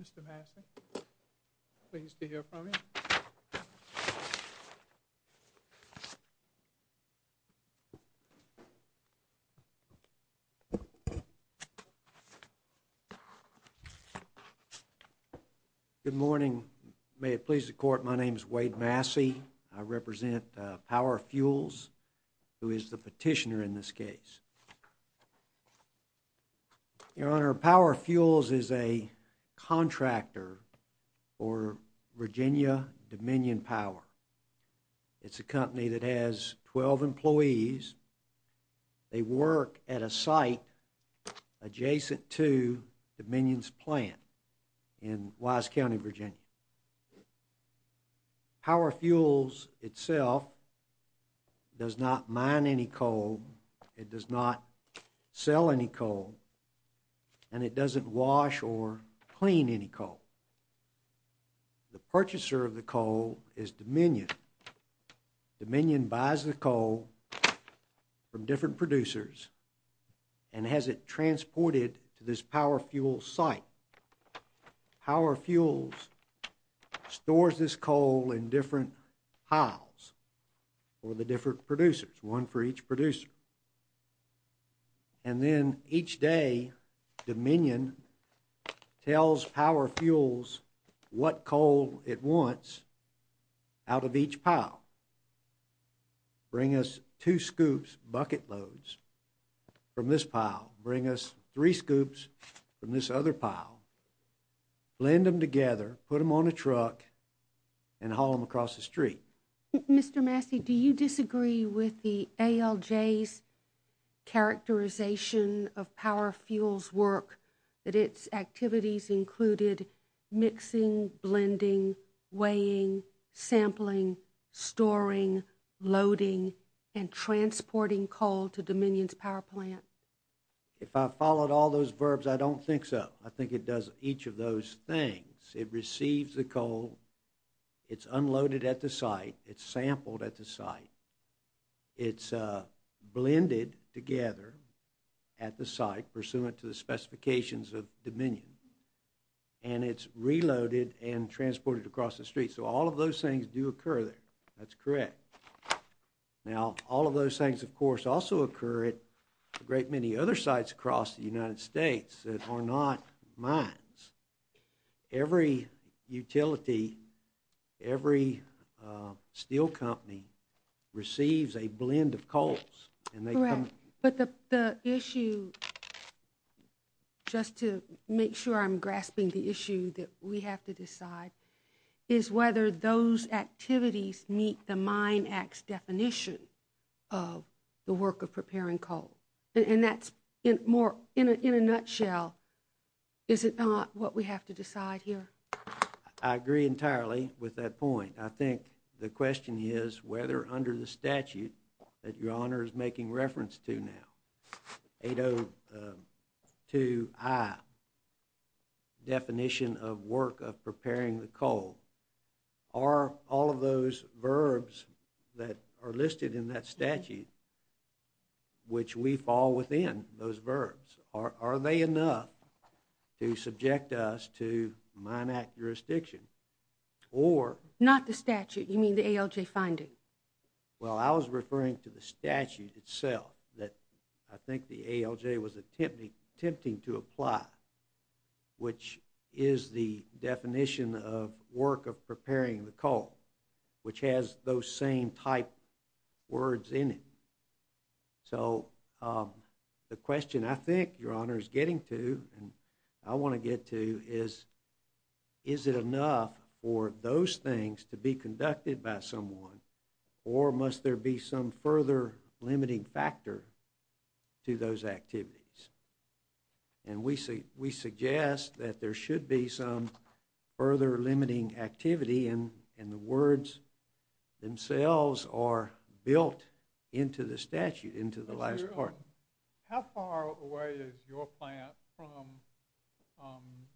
Mr. Massey, pleased to hear from you. Good morning. May it please the Court, my name is Wade Massey. I represent Power Fuels, who is the petitioner in this case. Your Honor, Power Fuels is a contractor for Virginia Dominion Power. It's a company that has 12 employees. They work at a site adjacent to Dominion's plant in Wise County, Virginia. Power Fuels, itself, does not mine any coal, it does not sell any coal, and it doesn't wash or clean any coal. The purchaser of the coal is Dominion. Dominion buys the coal from different producers and has it transported to this Power Fuels site. Power Fuels stores this coal in different piles for the different producers, one for each producer. And then, each day, Dominion tells Power Fuels what coal it wants out of each pile. Bring us two scoops, bucket loads, from this pile. Bring us three scoops from this other pile. Blend them together, put them on a truck, and haul them across the street. Mr. Massey, do you disagree with the ALJ's characterization of Power Fuels' work, that its activities included mixing, blending, weighing, sampling, storing, loading, and transporting coal to Dominion's power plant? If I followed all those verbs, I don't think so. I think it does each of those things. It receives the coal, it's unloaded at the site, it's sampled at the site, it's blended together at the site, pursuant to the specifications of Dominion, and it's reloaded and transported across the street. So all of those things do occur there. That's correct. Now, all of those things, of course, also occur at a great many other sites across the United States that are not mines. Every utility, every steel company, receives a blend of coals. Correct. But the issue, just to make sure I'm grasping the issue that we have to decide, is whether those activities meet the Mine Act's definition of the work of preparing coal. And that's, in a nutshell, is it not what we have to decide here? I agree entirely with that point. I think the question is whether under the statute that Your Honor is making reference to now, 802i, definition of work of preparing the coal, are all of those verbs that are listed in that statute, which we fall within those verbs, are they enough to subject us to Mine Act? Not the statute, you mean the ALJ finding? Well, I was referring to the statute itself that I think the ALJ was attempting to apply, which is the definition of work of preparing the coal, which has those same type words in it. So the question I think Your Honor is getting to, and I want to get to, is, is it enough for those things to be conducted by someone, or must there be some further limiting factor to those activities? And we suggest that there should be some further limiting activity, and the words themselves are built into the statute, into the last part. How far away is your plant from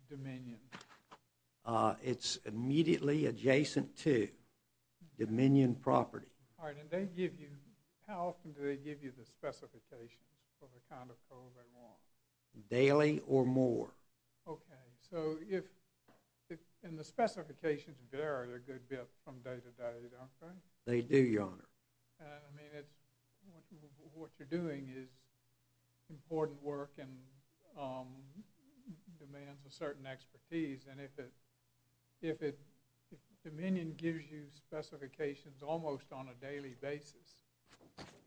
Dominion? It's immediately adjacent to Dominion property. All right, and they give you, how often do they give you the specifications for the kind of coal they want? Daily or more. Okay, so if, and the specifications vary a good bit from day to day, don't they? They do, Your Honor. I mean, it's, what you're doing is important work and demands a certain expertise, and if it, if it, if Dominion gives you specifications almost on a daily basis,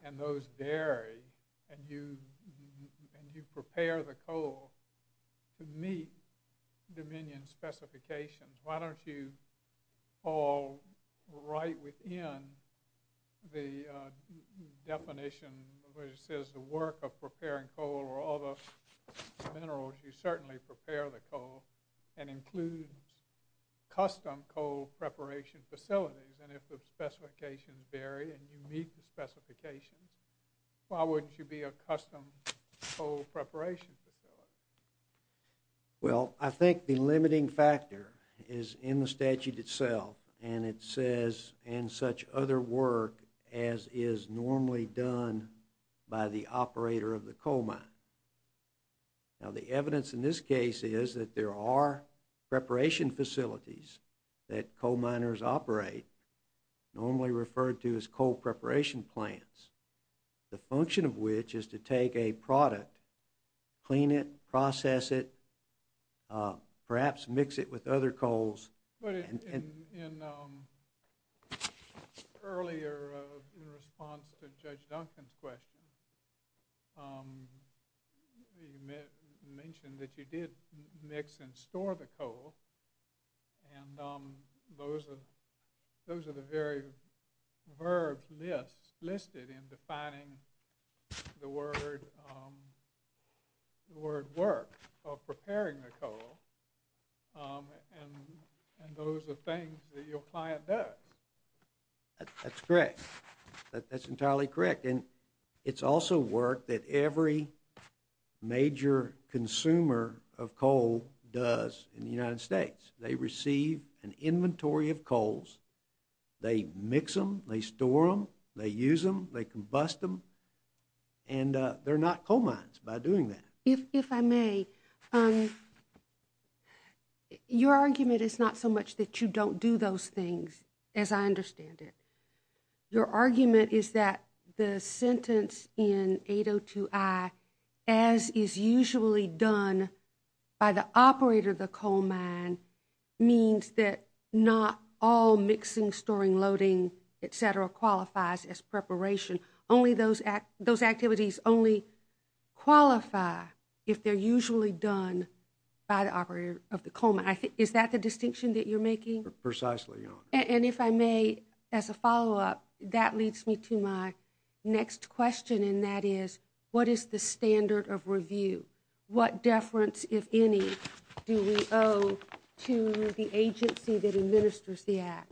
and those vary, and you, and you prepare the coal to meet Dominion's specifications, why don't you fall right within the definition, which says the work of preparing coal, or all the minerals, you certainly prepare the coal, and includes custom coal preparation facilities, and if the specifications vary, and you meet the specifications, why wouldn't you be a custom coal preparation facility? Well, I think the limiting factor is in the statute itself, and it says, and such other work as is normally done by the operator of the coal mine. Now, the evidence in this case is that there are preparation facilities that coal miners operate, normally referred to as coal preparation plants, the function of which is to take a product, clean it, process it, perhaps mix it with other coals. But in, in, in earlier, in response to Judge Duncan's question, you mentioned that you did mix and store the coal, and those are, those are the very verbs listed in defining the word, the word work, or preparing the coal, and, and those are things that your client does. That's correct, that's entirely correct, and it's also work that every major consumer of coal does in the United States. They receive an inventory of coals, they mix them, they store them, they use them, they combust them, and they're not coal mines by doing that. If, if I may, your argument is not so much that you don't do those things, as I understand it. Your argument is that the sentence in 802I, as is usually done by the operator of the coal mine, means that not all mixing, storing, loading, et cetera, qualifies as preparation. Only those act, those activities only qualify if they're usually done by the operator of the coal mine. I think, is that the distinction that you're making? Precisely, Your Honor. And if I may, as a follow-up, that leads me to my next question, and that is, what is the standard of review? What deference, if any, do we owe to the agency that administers the act?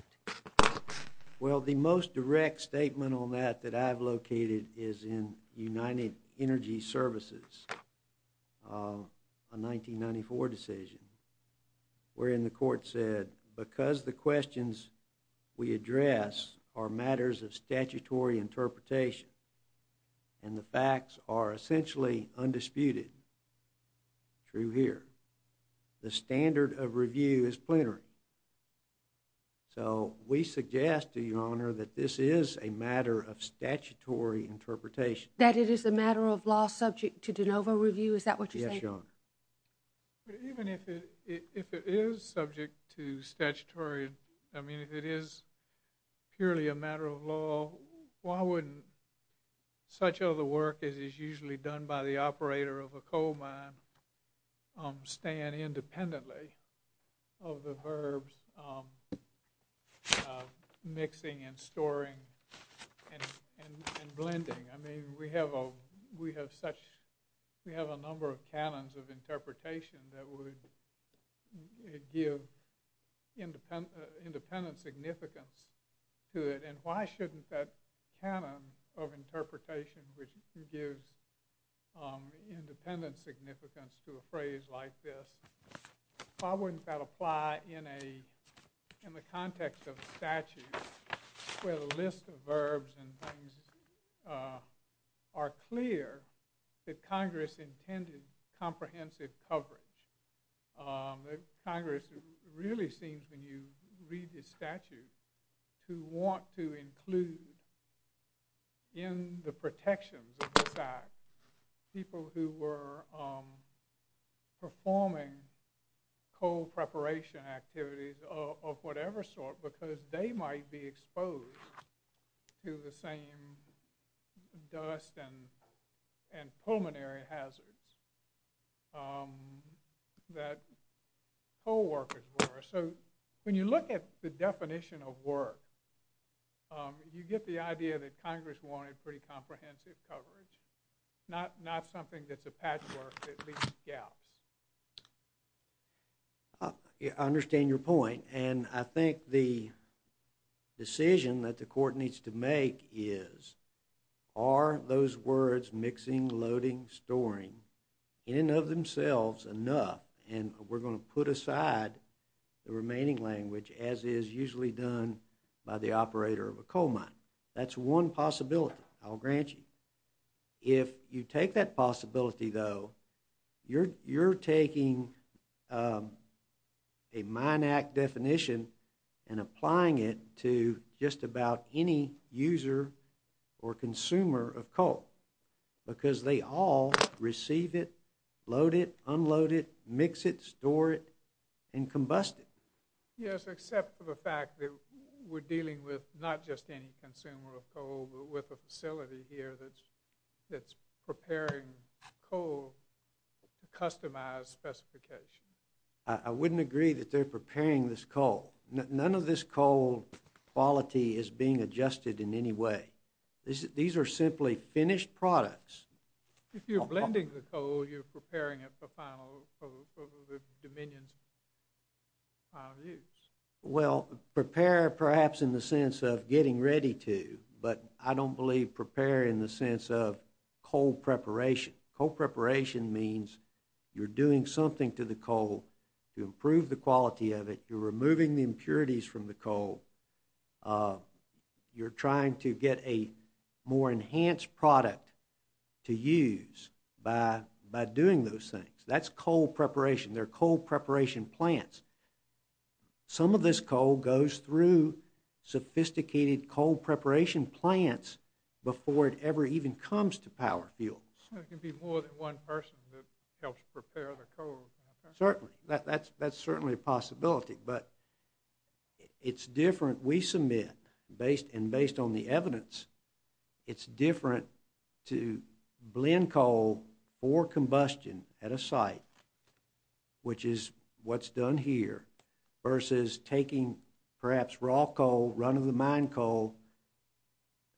Well, the most direct statement on that that I've located is in United Energy Services, a 1994 decision, wherein the court said, because the questions we address are matters of statutory interpretation, and the facts are essentially undisputed, true here, the standard of review is plenary. So, we suggest to you, Your Honor, that this is a matter of statutory interpretation. That it is a matter of law subject to de novo review, is that what you're saying? Yes, Your Honor. Even if it is subject to statutory, I mean, if it is purely a matter of law, why wouldn't such other work as is usually done by the operator of a coal mine stand independently of the verbs mixing and storing and blending? I mean, we have a number of canons of interpretation that would give independent significance to it, and why shouldn't that canon of interpretation, which gives independent significance to a phrase like this, why wouldn't that apply in the context of a statute where the list of verbs and things are clear that Congress intended comprehensive coverage? Congress really seems, when you read this statute, to want to include in the protections of this act people who were performing coal preparation activities of whatever sort, because they might be exposed to the same dust and pulmonary hazards that coal workers were. So, when you look at the definition of work, you get the idea that Congress wanted pretty comprehensive coverage, not something that's a patchwork that leaves gaps. I understand your point, and I think the decision that the court needs to make is, are those words mixing, loading, storing, in and of themselves, enough? And we're going to put aside the remaining language as is usually done by the operator of a coal mine. That's one possibility, I'll grant you. If you take that possibility, though, you're taking a mine act definition and applying it to just about any user or consumer of coal, because they all receive it, load it, unload it, mix it, store it, and combust it. Yes, except for the fact that we're dealing with not just any consumer of coal, but with a facility here that's preparing coal to customize specifications. I wouldn't agree that they're preparing this coal. None of this coal quality is being adjusted in any way. These are simply finished products. If you're blending the coal, you're preparing it for the Dominion's final use. Well, prepare perhaps in the sense of getting ready to, but I don't believe prepare in the sense of coal preparation. Coal preparation means you're doing something to the coal to improve the quality of it. You're removing the impurities from the coal. You're trying to get a more enhanced product to use by doing those things. That's coal preparation. They're coal preparation plants. Some of this coal goes through sophisticated coal preparation plants before it ever even comes to power fields. It can be more than one person that helps prepare the coal. Certainly. That's certainly a possibility, but it's different. We submit, and based on the evidence, it's different to blend coal for combustion at a site, which is what's done here, versus taking perhaps raw coal, run-of-the-mine coal,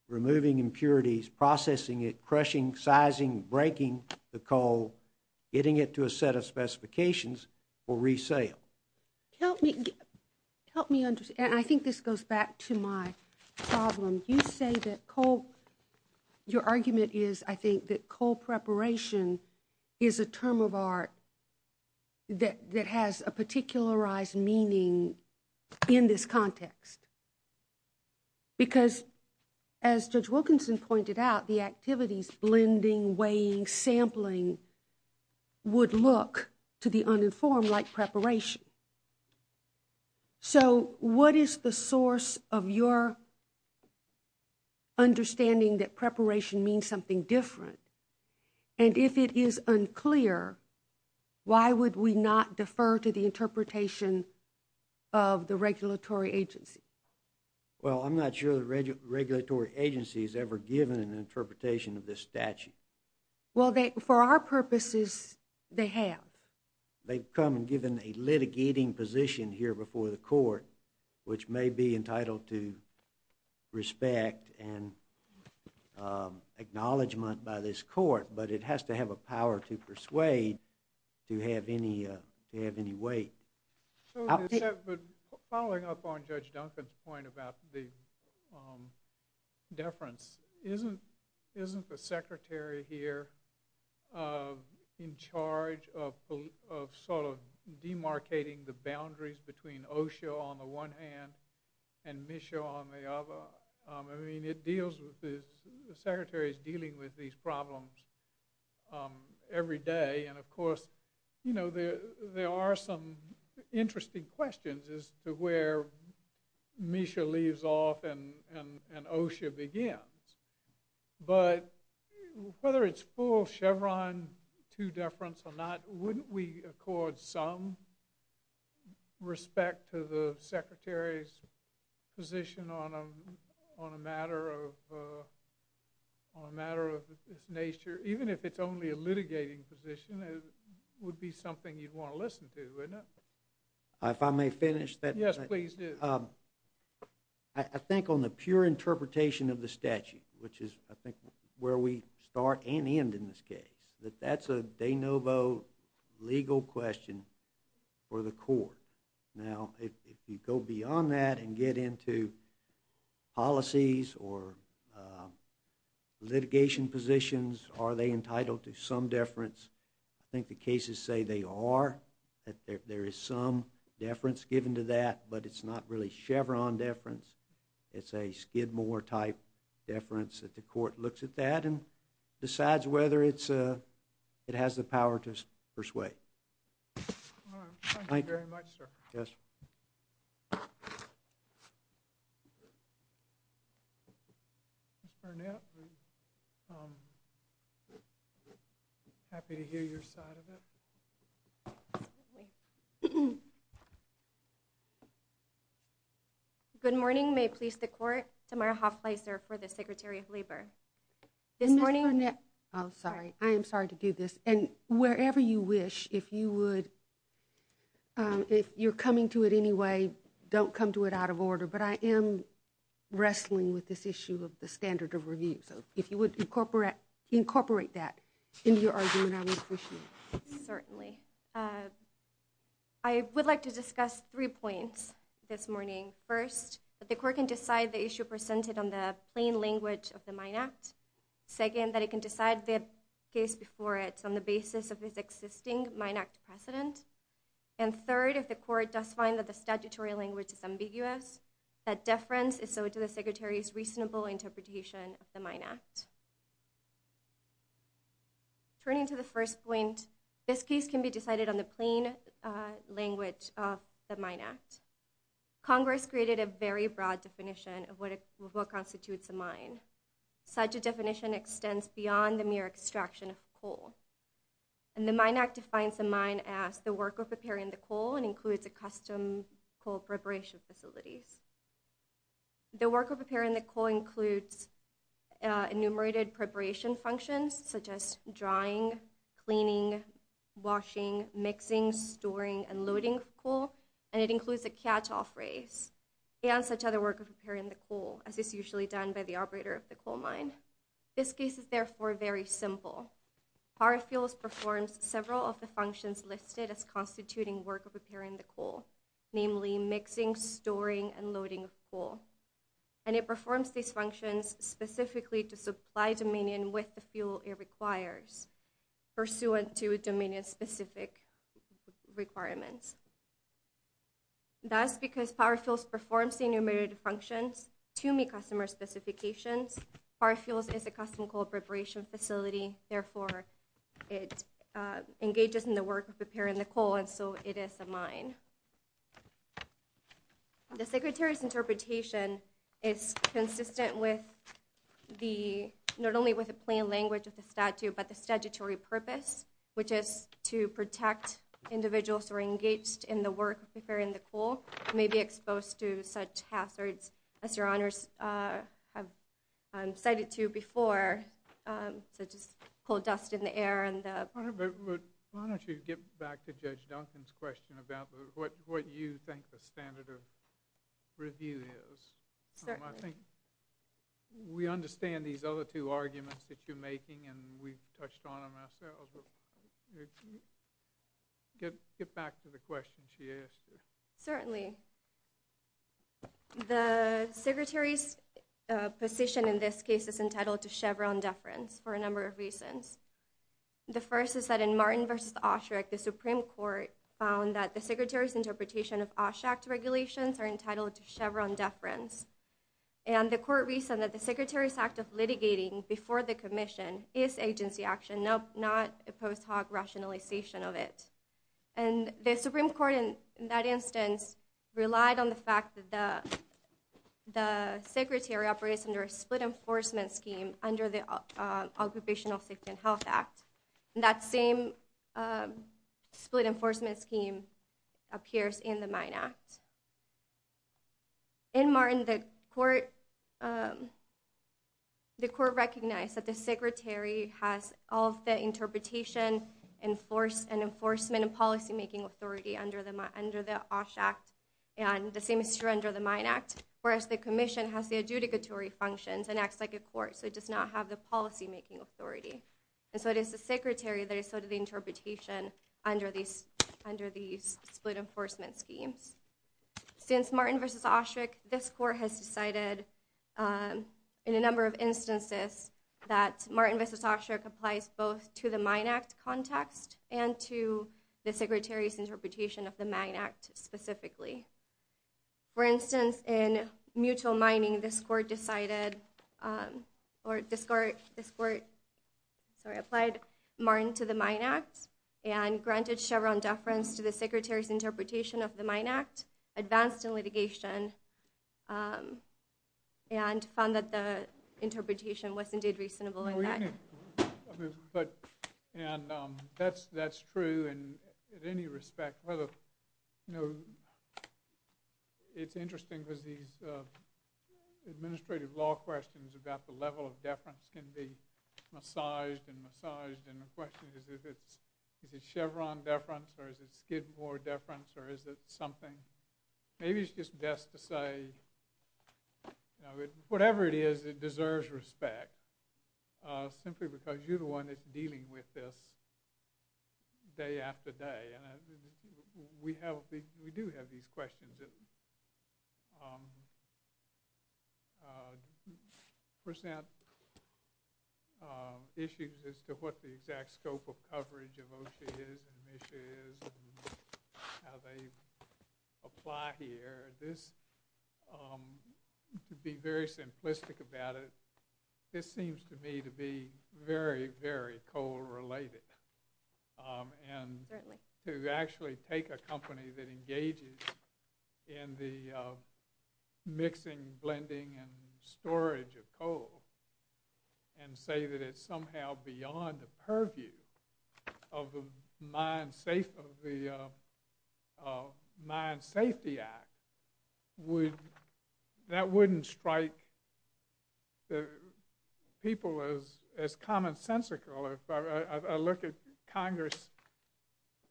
removing impurities, processing it, crushing, sizing, breaking the coal, getting it to a set of specifications, or resale. Help me understand. I think this goes back to my problem. You say that coal, your argument is, I think, that coal preparation is a term of art that has a particularized meaning in this context. Because, as Judge Wilkinson pointed out, the activities, blending, weighing, sampling, would look to the uninformed like preparation. So what is the source of your understanding that preparation means something different? And if it is unclear, why would we not defer to the interpretation of the regulatory agency? Well, I'm not sure the regulatory agency is ever given an interpretation of this statute. Well, for our purposes, they have. They've come and given a litigating position here before the court, which may be entitled to respect and acknowledgement by this court, but it has to have a power to persuade to have any weight. Following up on Judge Duncan's point about the deference, isn't the secretary here in charge of sort of demarcating the boundaries between OSHA on the one hand and MSHA on the other? I mean, the secretary is dealing with these problems every day. And, of course, there are some interesting questions as to where MSHA leaves off and OSHA begins. But whether it's full Chevron to deference or not, wouldn't we accord some respect to the secretary's position on a matter of this nature, even if it's only a litigating position, would be something you'd want to listen to, wouldn't it? If I may finish? Yes, please do. I think on the pure interpretation of the statute, which is, I think, where we start and end in this case, that that's a de novo legal question for the court. Now, if you go beyond that and get into policies or litigation positions, are they entitled to some deference? I think the cases say they are, that there is some deference given to that, but it's not really Chevron deference. It's a Skidmore-type deference that the court looks at that and decides whether it has the power to persuade. All right. Thank you very much, sir. Yes. Ms. Burnett, I'm happy to hear your side of it. Absolutely. Good morning. May it please the court, Tamara Hoff-Leiser for the Secretary of Labor. Ms. Burnett, I'm sorry. I am sorry to do this. And wherever you wish, if you would, if you're coming to it anyway, don't come to it out of order, but I am wrestling with this issue of the standard of review. So if you would incorporate that into your argument, I would appreciate it. Certainly. I would like to discuss three points this morning. First, that the court can decide the issue presented on the plain language of the Mine Act. Second, that it can decide the case before it on the basis of its existing Mine Act precedent. And third, if the court does find that the statutory language is ambiguous, that deference is so to the Secretary's reasonable interpretation of the Mine Act. Turning to the first point, this case can be decided on the plain language of the Mine Act. Congress created a very broad definition of what constitutes a mine. Such a definition extends beyond the mere extraction of coal. And the Mine Act defines a mine as the worker preparing the coal and includes a custom coal preparation facilities. The worker preparing the coal includes enumerated preparation functions, such as drying, cleaning, washing, mixing, storing, and loading of coal, and it includes a catch-off race and such other work of preparing the coal, as is usually done by the operator of the coal mine. This case is therefore very simple. Power Fuels performs several of the functions listed as constituting work of preparing the coal, namely mixing, storing, and loading of coal. And it performs these functions specifically to supply Dominion with the fuel it requires, pursuant to Dominion-specific requirements. Thus, because Power Fuels performs the enumerated functions to meet customer specifications, Power Fuels is a custom coal preparation facility, therefore it engages in the work of preparing the coal, and so it is a mine. The Secretary's interpretation is consistent with the, not only with the plain language of the statute, but the statutory purpose, which is to protect individuals who are engaged in the work of preparing the coal and may be exposed to such hazards as Your Honors have cited to before, such as coal dust in the air. Why don't you get back to Judge Duncan's question about what you think the standard of review is. I think we understand these other two arguments that you're making, and we've touched on them ourselves. Get back to the question she asked you. Certainly. The Secretary's position in this case is entitled to Chevron deference for a number of reasons. The first is that in Martin v. Osherick, the Supreme Court found that the Secretary's interpretation of Osherick regulations are entitled to Chevron deference. And the court reasoned that the Secretary's act of litigating before the commission is agency action, not a post hoc rationalization of it. And the Supreme Court in that instance relied on the fact that the Secretary operates under a split enforcement scheme under the Occupational Safety and Health Act. And that same split enforcement scheme appears in the Mine Act. In Martin, the court recognized that the Secretary has all of the interpretation and enforcement and policymaking authority under the Osh Act, and the same is true under the Mine Act, whereas the commission has the adjudicatory functions and acts like a court, so it does not have the policymaking authority. And so it is the Secretary that is sort of the interpretation under these split enforcement schemes. Since Martin v. Osherick, this court has decided in a number of instances that Martin v. Osherick applies both to the Mine Act context and to the Secretary's interpretation of the Mine Act specifically. For instance, in Mutual Mining, this court applied Martin to the Mine Act and granted Chevron deference to the Secretary's interpretation of the Mine Act, advanced in litigation, and found that the interpretation was indeed reasonable in that. And that's true in any respect. It's interesting because these administrative law questions about the level of deference can be massaged and massaged, and the question is, is it Chevron deference or is it Skidmore deference or is it something? Maybe it's just best to say, whatever it is, it deserves respect, simply because you're the one that's dealing with this day after day. We do have these questions that present issues as to what the exact scope of coverage of OSHA is and how they apply here. To be very simplistic about it, this seems to me to be very, very coal-related. And to actually take a company that engages in the mixing, blending, and storage of coal and say that it's somehow beyond the purview of the Mine Safety Act, that wouldn't strike people as commonsensical. I look at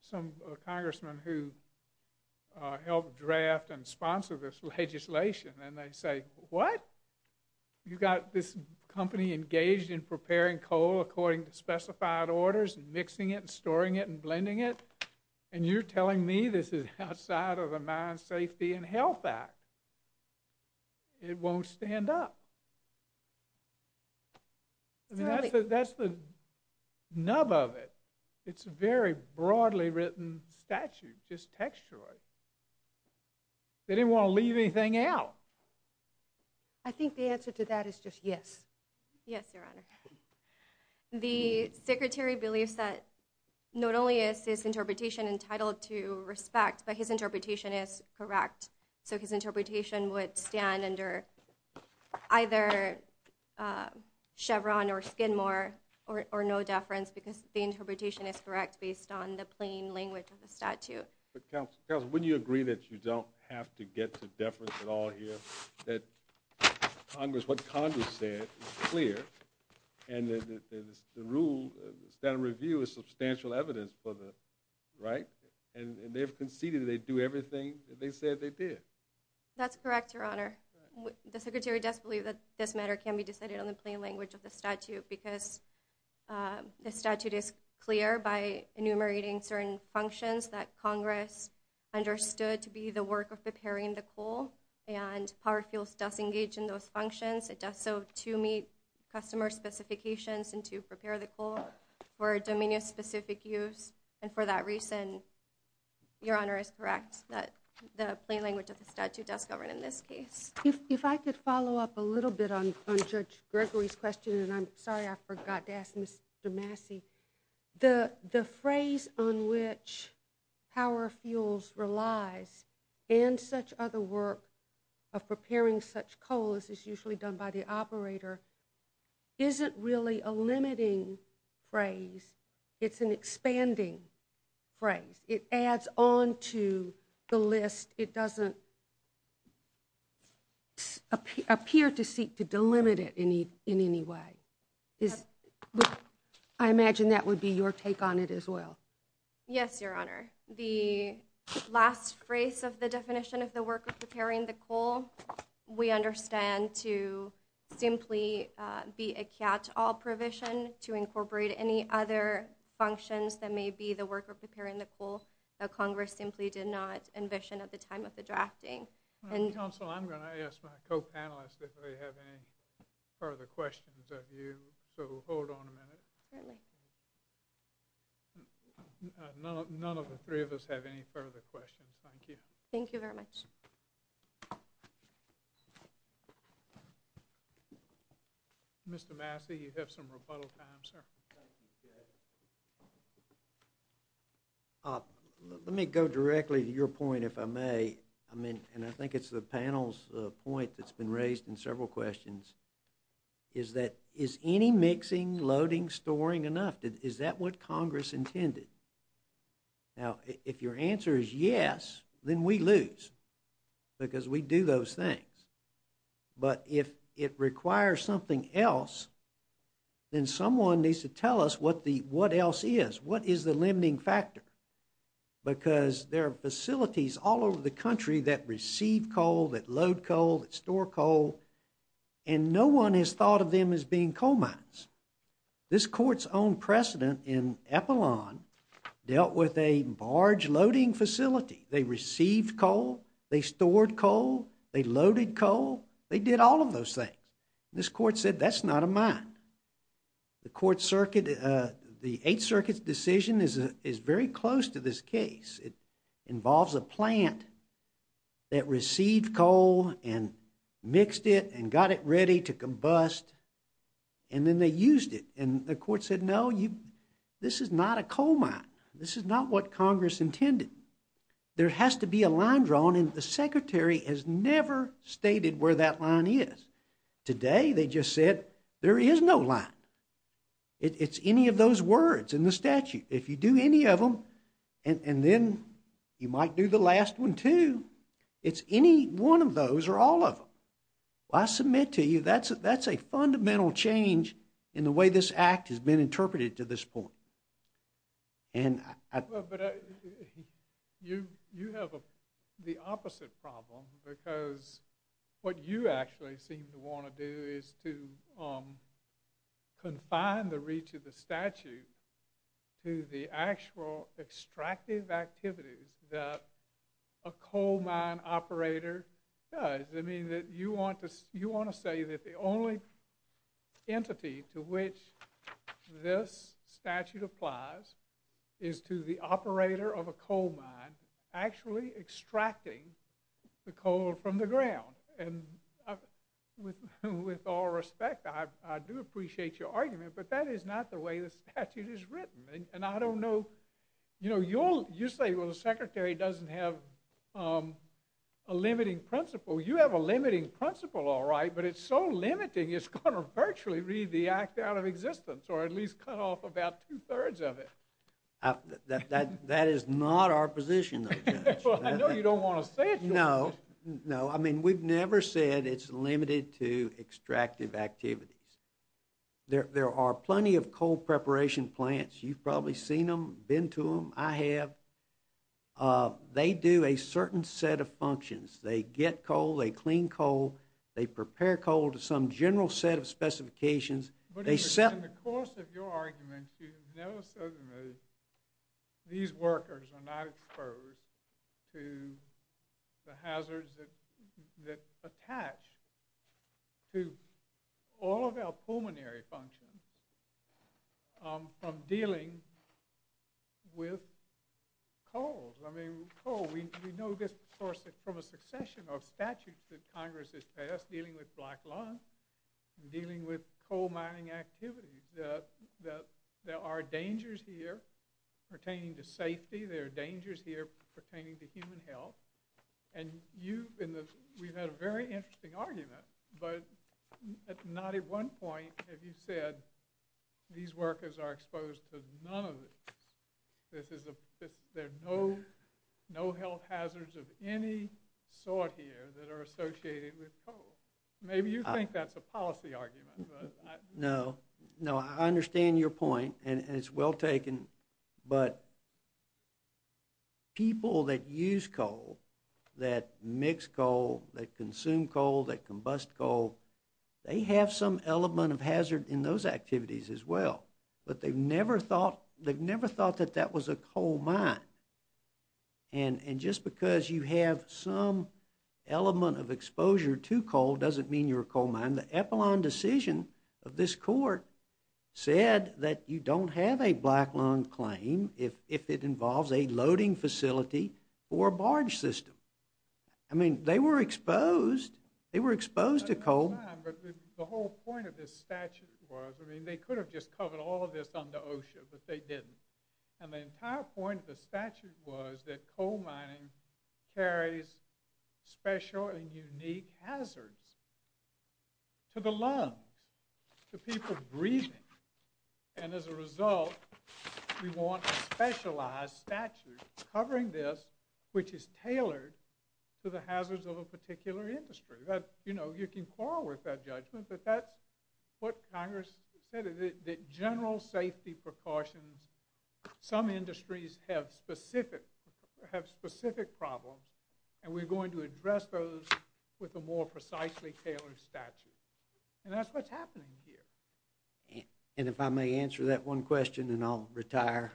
some congressmen who help draft and sponsor this legislation, and they say, what? You've got this company engaged in preparing coal according to specified orders and mixing it and storing it and blending it, and you're telling me this is outside of the Mine Safety and Health Act? It won't stand up. I mean, that's the nub of it. It's a very broadly written statute, just textual. They didn't want to leave anything out. I think the answer to that is just yes. Yes, Your Honor. The Secretary believes that not only is his interpretation entitled to respect, but his interpretation is correct. So his interpretation would stand under either Chevron or Skidmore or no deference because the interpretation is correct based on the plain language of the statute. But, Counsel, wouldn't you agree that you don't have to get to deference at all here, that what Congress said is clear, and that the rule, the standard of review is substantial evidence for the right, and they've conceded they do everything that they said they did? That's correct, Your Honor. The Secretary does believe that this matter can be decided on the plain language of the statute because the statute is clear by enumerating certain functions that Congress understood to be the work of preparing the coal, and Power Fuels does engage in those functions. It does so to meet customer specifications and to prepare the coal for a domain of specific use, and for that reason, Your Honor, is correct that the plain language of the statute does govern in this case. If I could follow up a little bit on Judge Gregory's question, and I'm sorry I forgot to ask Mr. Massey, the phrase on which Power Fuels relies and such other work of preparing such coal, as is usually done by the operator, isn't really a limiting phrase. It's an expanding phrase. It adds on to the list. It doesn't appear to seek to delimit it in any way. I imagine that would be your take on it as well. Yes, Your Honor. The last phrase of the definition of the work of preparing the coal, we understand to simply be a catch-all provision to incorporate any other functions that may be the work of preparing the coal that Congress simply did not envision at the time of the drafting. Counsel, I'm going to ask my co-panelists if they have any further questions of you, so hold on a minute. Certainly. None of the three of us have any further questions. Thank you. Thank you very much. Thank you. Mr. Massey, you have some rebuttal time, sir. Let me go directly to your point, if I may, and I think it's the panel's point that's been raised in several questions, is that is any mixing, loading, storing enough? Is that what Congress intended? Now, if your answer is yes, then we lose because we do those things. But if it requires something else, then someone needs to tell us what else is. What is the limiting factor? Because there are facilities all over the country that receive coal, that load coal, that store coal, and no one has thought of them as being coal mines. This court's own precedent in Epilon dealt with a barge loading facility. They received coal. They stored coal. They loaded coal. They did all of those things. This court said that's not a mine. The Eighth Circuit's decision is very close to this case. It involves a plant that received coal and mixed it and got it ready to combust, and then they used it. And the court said, no, this is not a coal mine. This is not what Congress intended. There has to be a line drawn, and the secretary has never stated where that line is. Today, they just said there is no line. It's any of those words in the statute. If you do any of them, and then you might do the last one too, it's any one of those or all of them. I submit to you that's a fundamental change in the way this act has been interpreted to this point. But you have the opposite problem because what you actually seem to want to do is to confine the reach of the statute to the actual extractive activities that a coal mine operator does. I mean, you want to say that the only entity to which this statute applies is to the operator of a coal mine actually extracting the coal from the ground. And with all respect, I do appreciate your argument, but that is not the way the statute is written, and I don't know. You say, well, the secretary doesn't have a limiting principle. Well, you have a limiting principle, all right, but it's so limiting it's going to virtually read the act out of existence or at least cut off about two-thirds of it. That is not our position, though, Judge. Well, I know you don't want to say it, Judge. No, no. I mean, we've never said it's limited to extractive activities. There are plenty of coal preparation plants. You've probably seen them, been to them. I have. They do a certain set of functions. They get coal. They clean coal. They prepare coal to some general set of specifications. But in the course of your arguments, you've never said to me these workers are not exposed to the hazards that attach to all of our pulmonary functions from dealing with coal. I mean, coal, we know this from a succession of statutes that Congress has passed dealing with black line and dealing with coal mining activities, that there are dangers here pertaining to safety. There are dangers here pertaining to human health. And we've had a very interesting argument, but not at one point have you said these workers are exposed to none of it. There are no health hazards of any sort here that are associated with coal. Maybe you think that's a policy argument. No. No, I understand your point, and it's well taken. But people that use coal, that mix coal, that consume coal, that combust coal, they have some element of hazard in those activities as well. But they've never thought that that was a coal mine. And just because you have some element of exposure to coal doesn't mean you're a coal mine. The epilogue decision of this court said that you don't have a black line claim if it involves a loading facility or a barge system. I mean, they were exposed. They were exposed to coal. But the whole point of this statute was, I mean, they could have just covered all of this under OSHA, but they didn't. And the entire point of the statute was that coal mining carries special and unique hazards to the lungs, to people breathing. And as a result, we want a specialized statute covering this, which is tailored to the hazards of a particular industry. You know, you can quarrel with that judgment, but that's what Congress said, that general safety precautions, some industries have specific problems, and we're going to address those with a more precisely tailored statute. And that's what's happening here. And if I may answer that one question, and I'll retire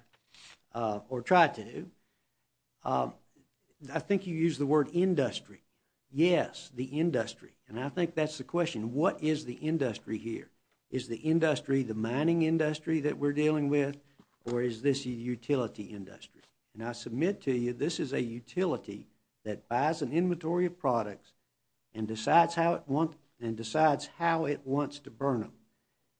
or try to, I think you used the word industry. Yes, the industry. And I think that's the question. What is the industry here? Is the industry the mining industry that we're dealing with, or is this a utility industry? And I submit to you, this is a utility that buys an inventory of products and decides how it wants to burn them.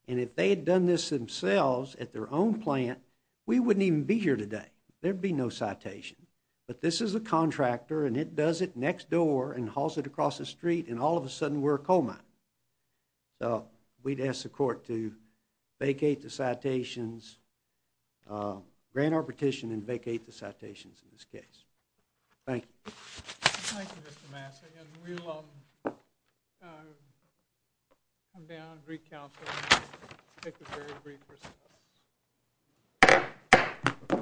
And if they had done this themselves at their own plant, we wouldn't even be here today. There'd be no citation. But this is a contractor, and it does it next door and hauls it across the street, and all of a sudden we're a coal mine. So we'd ask the court to vacate the citations, grant our petition and vacate the citations in this case. Thank you. Thank you, Mr. Massey. And we'll come down and recouncil and take a very brief recess.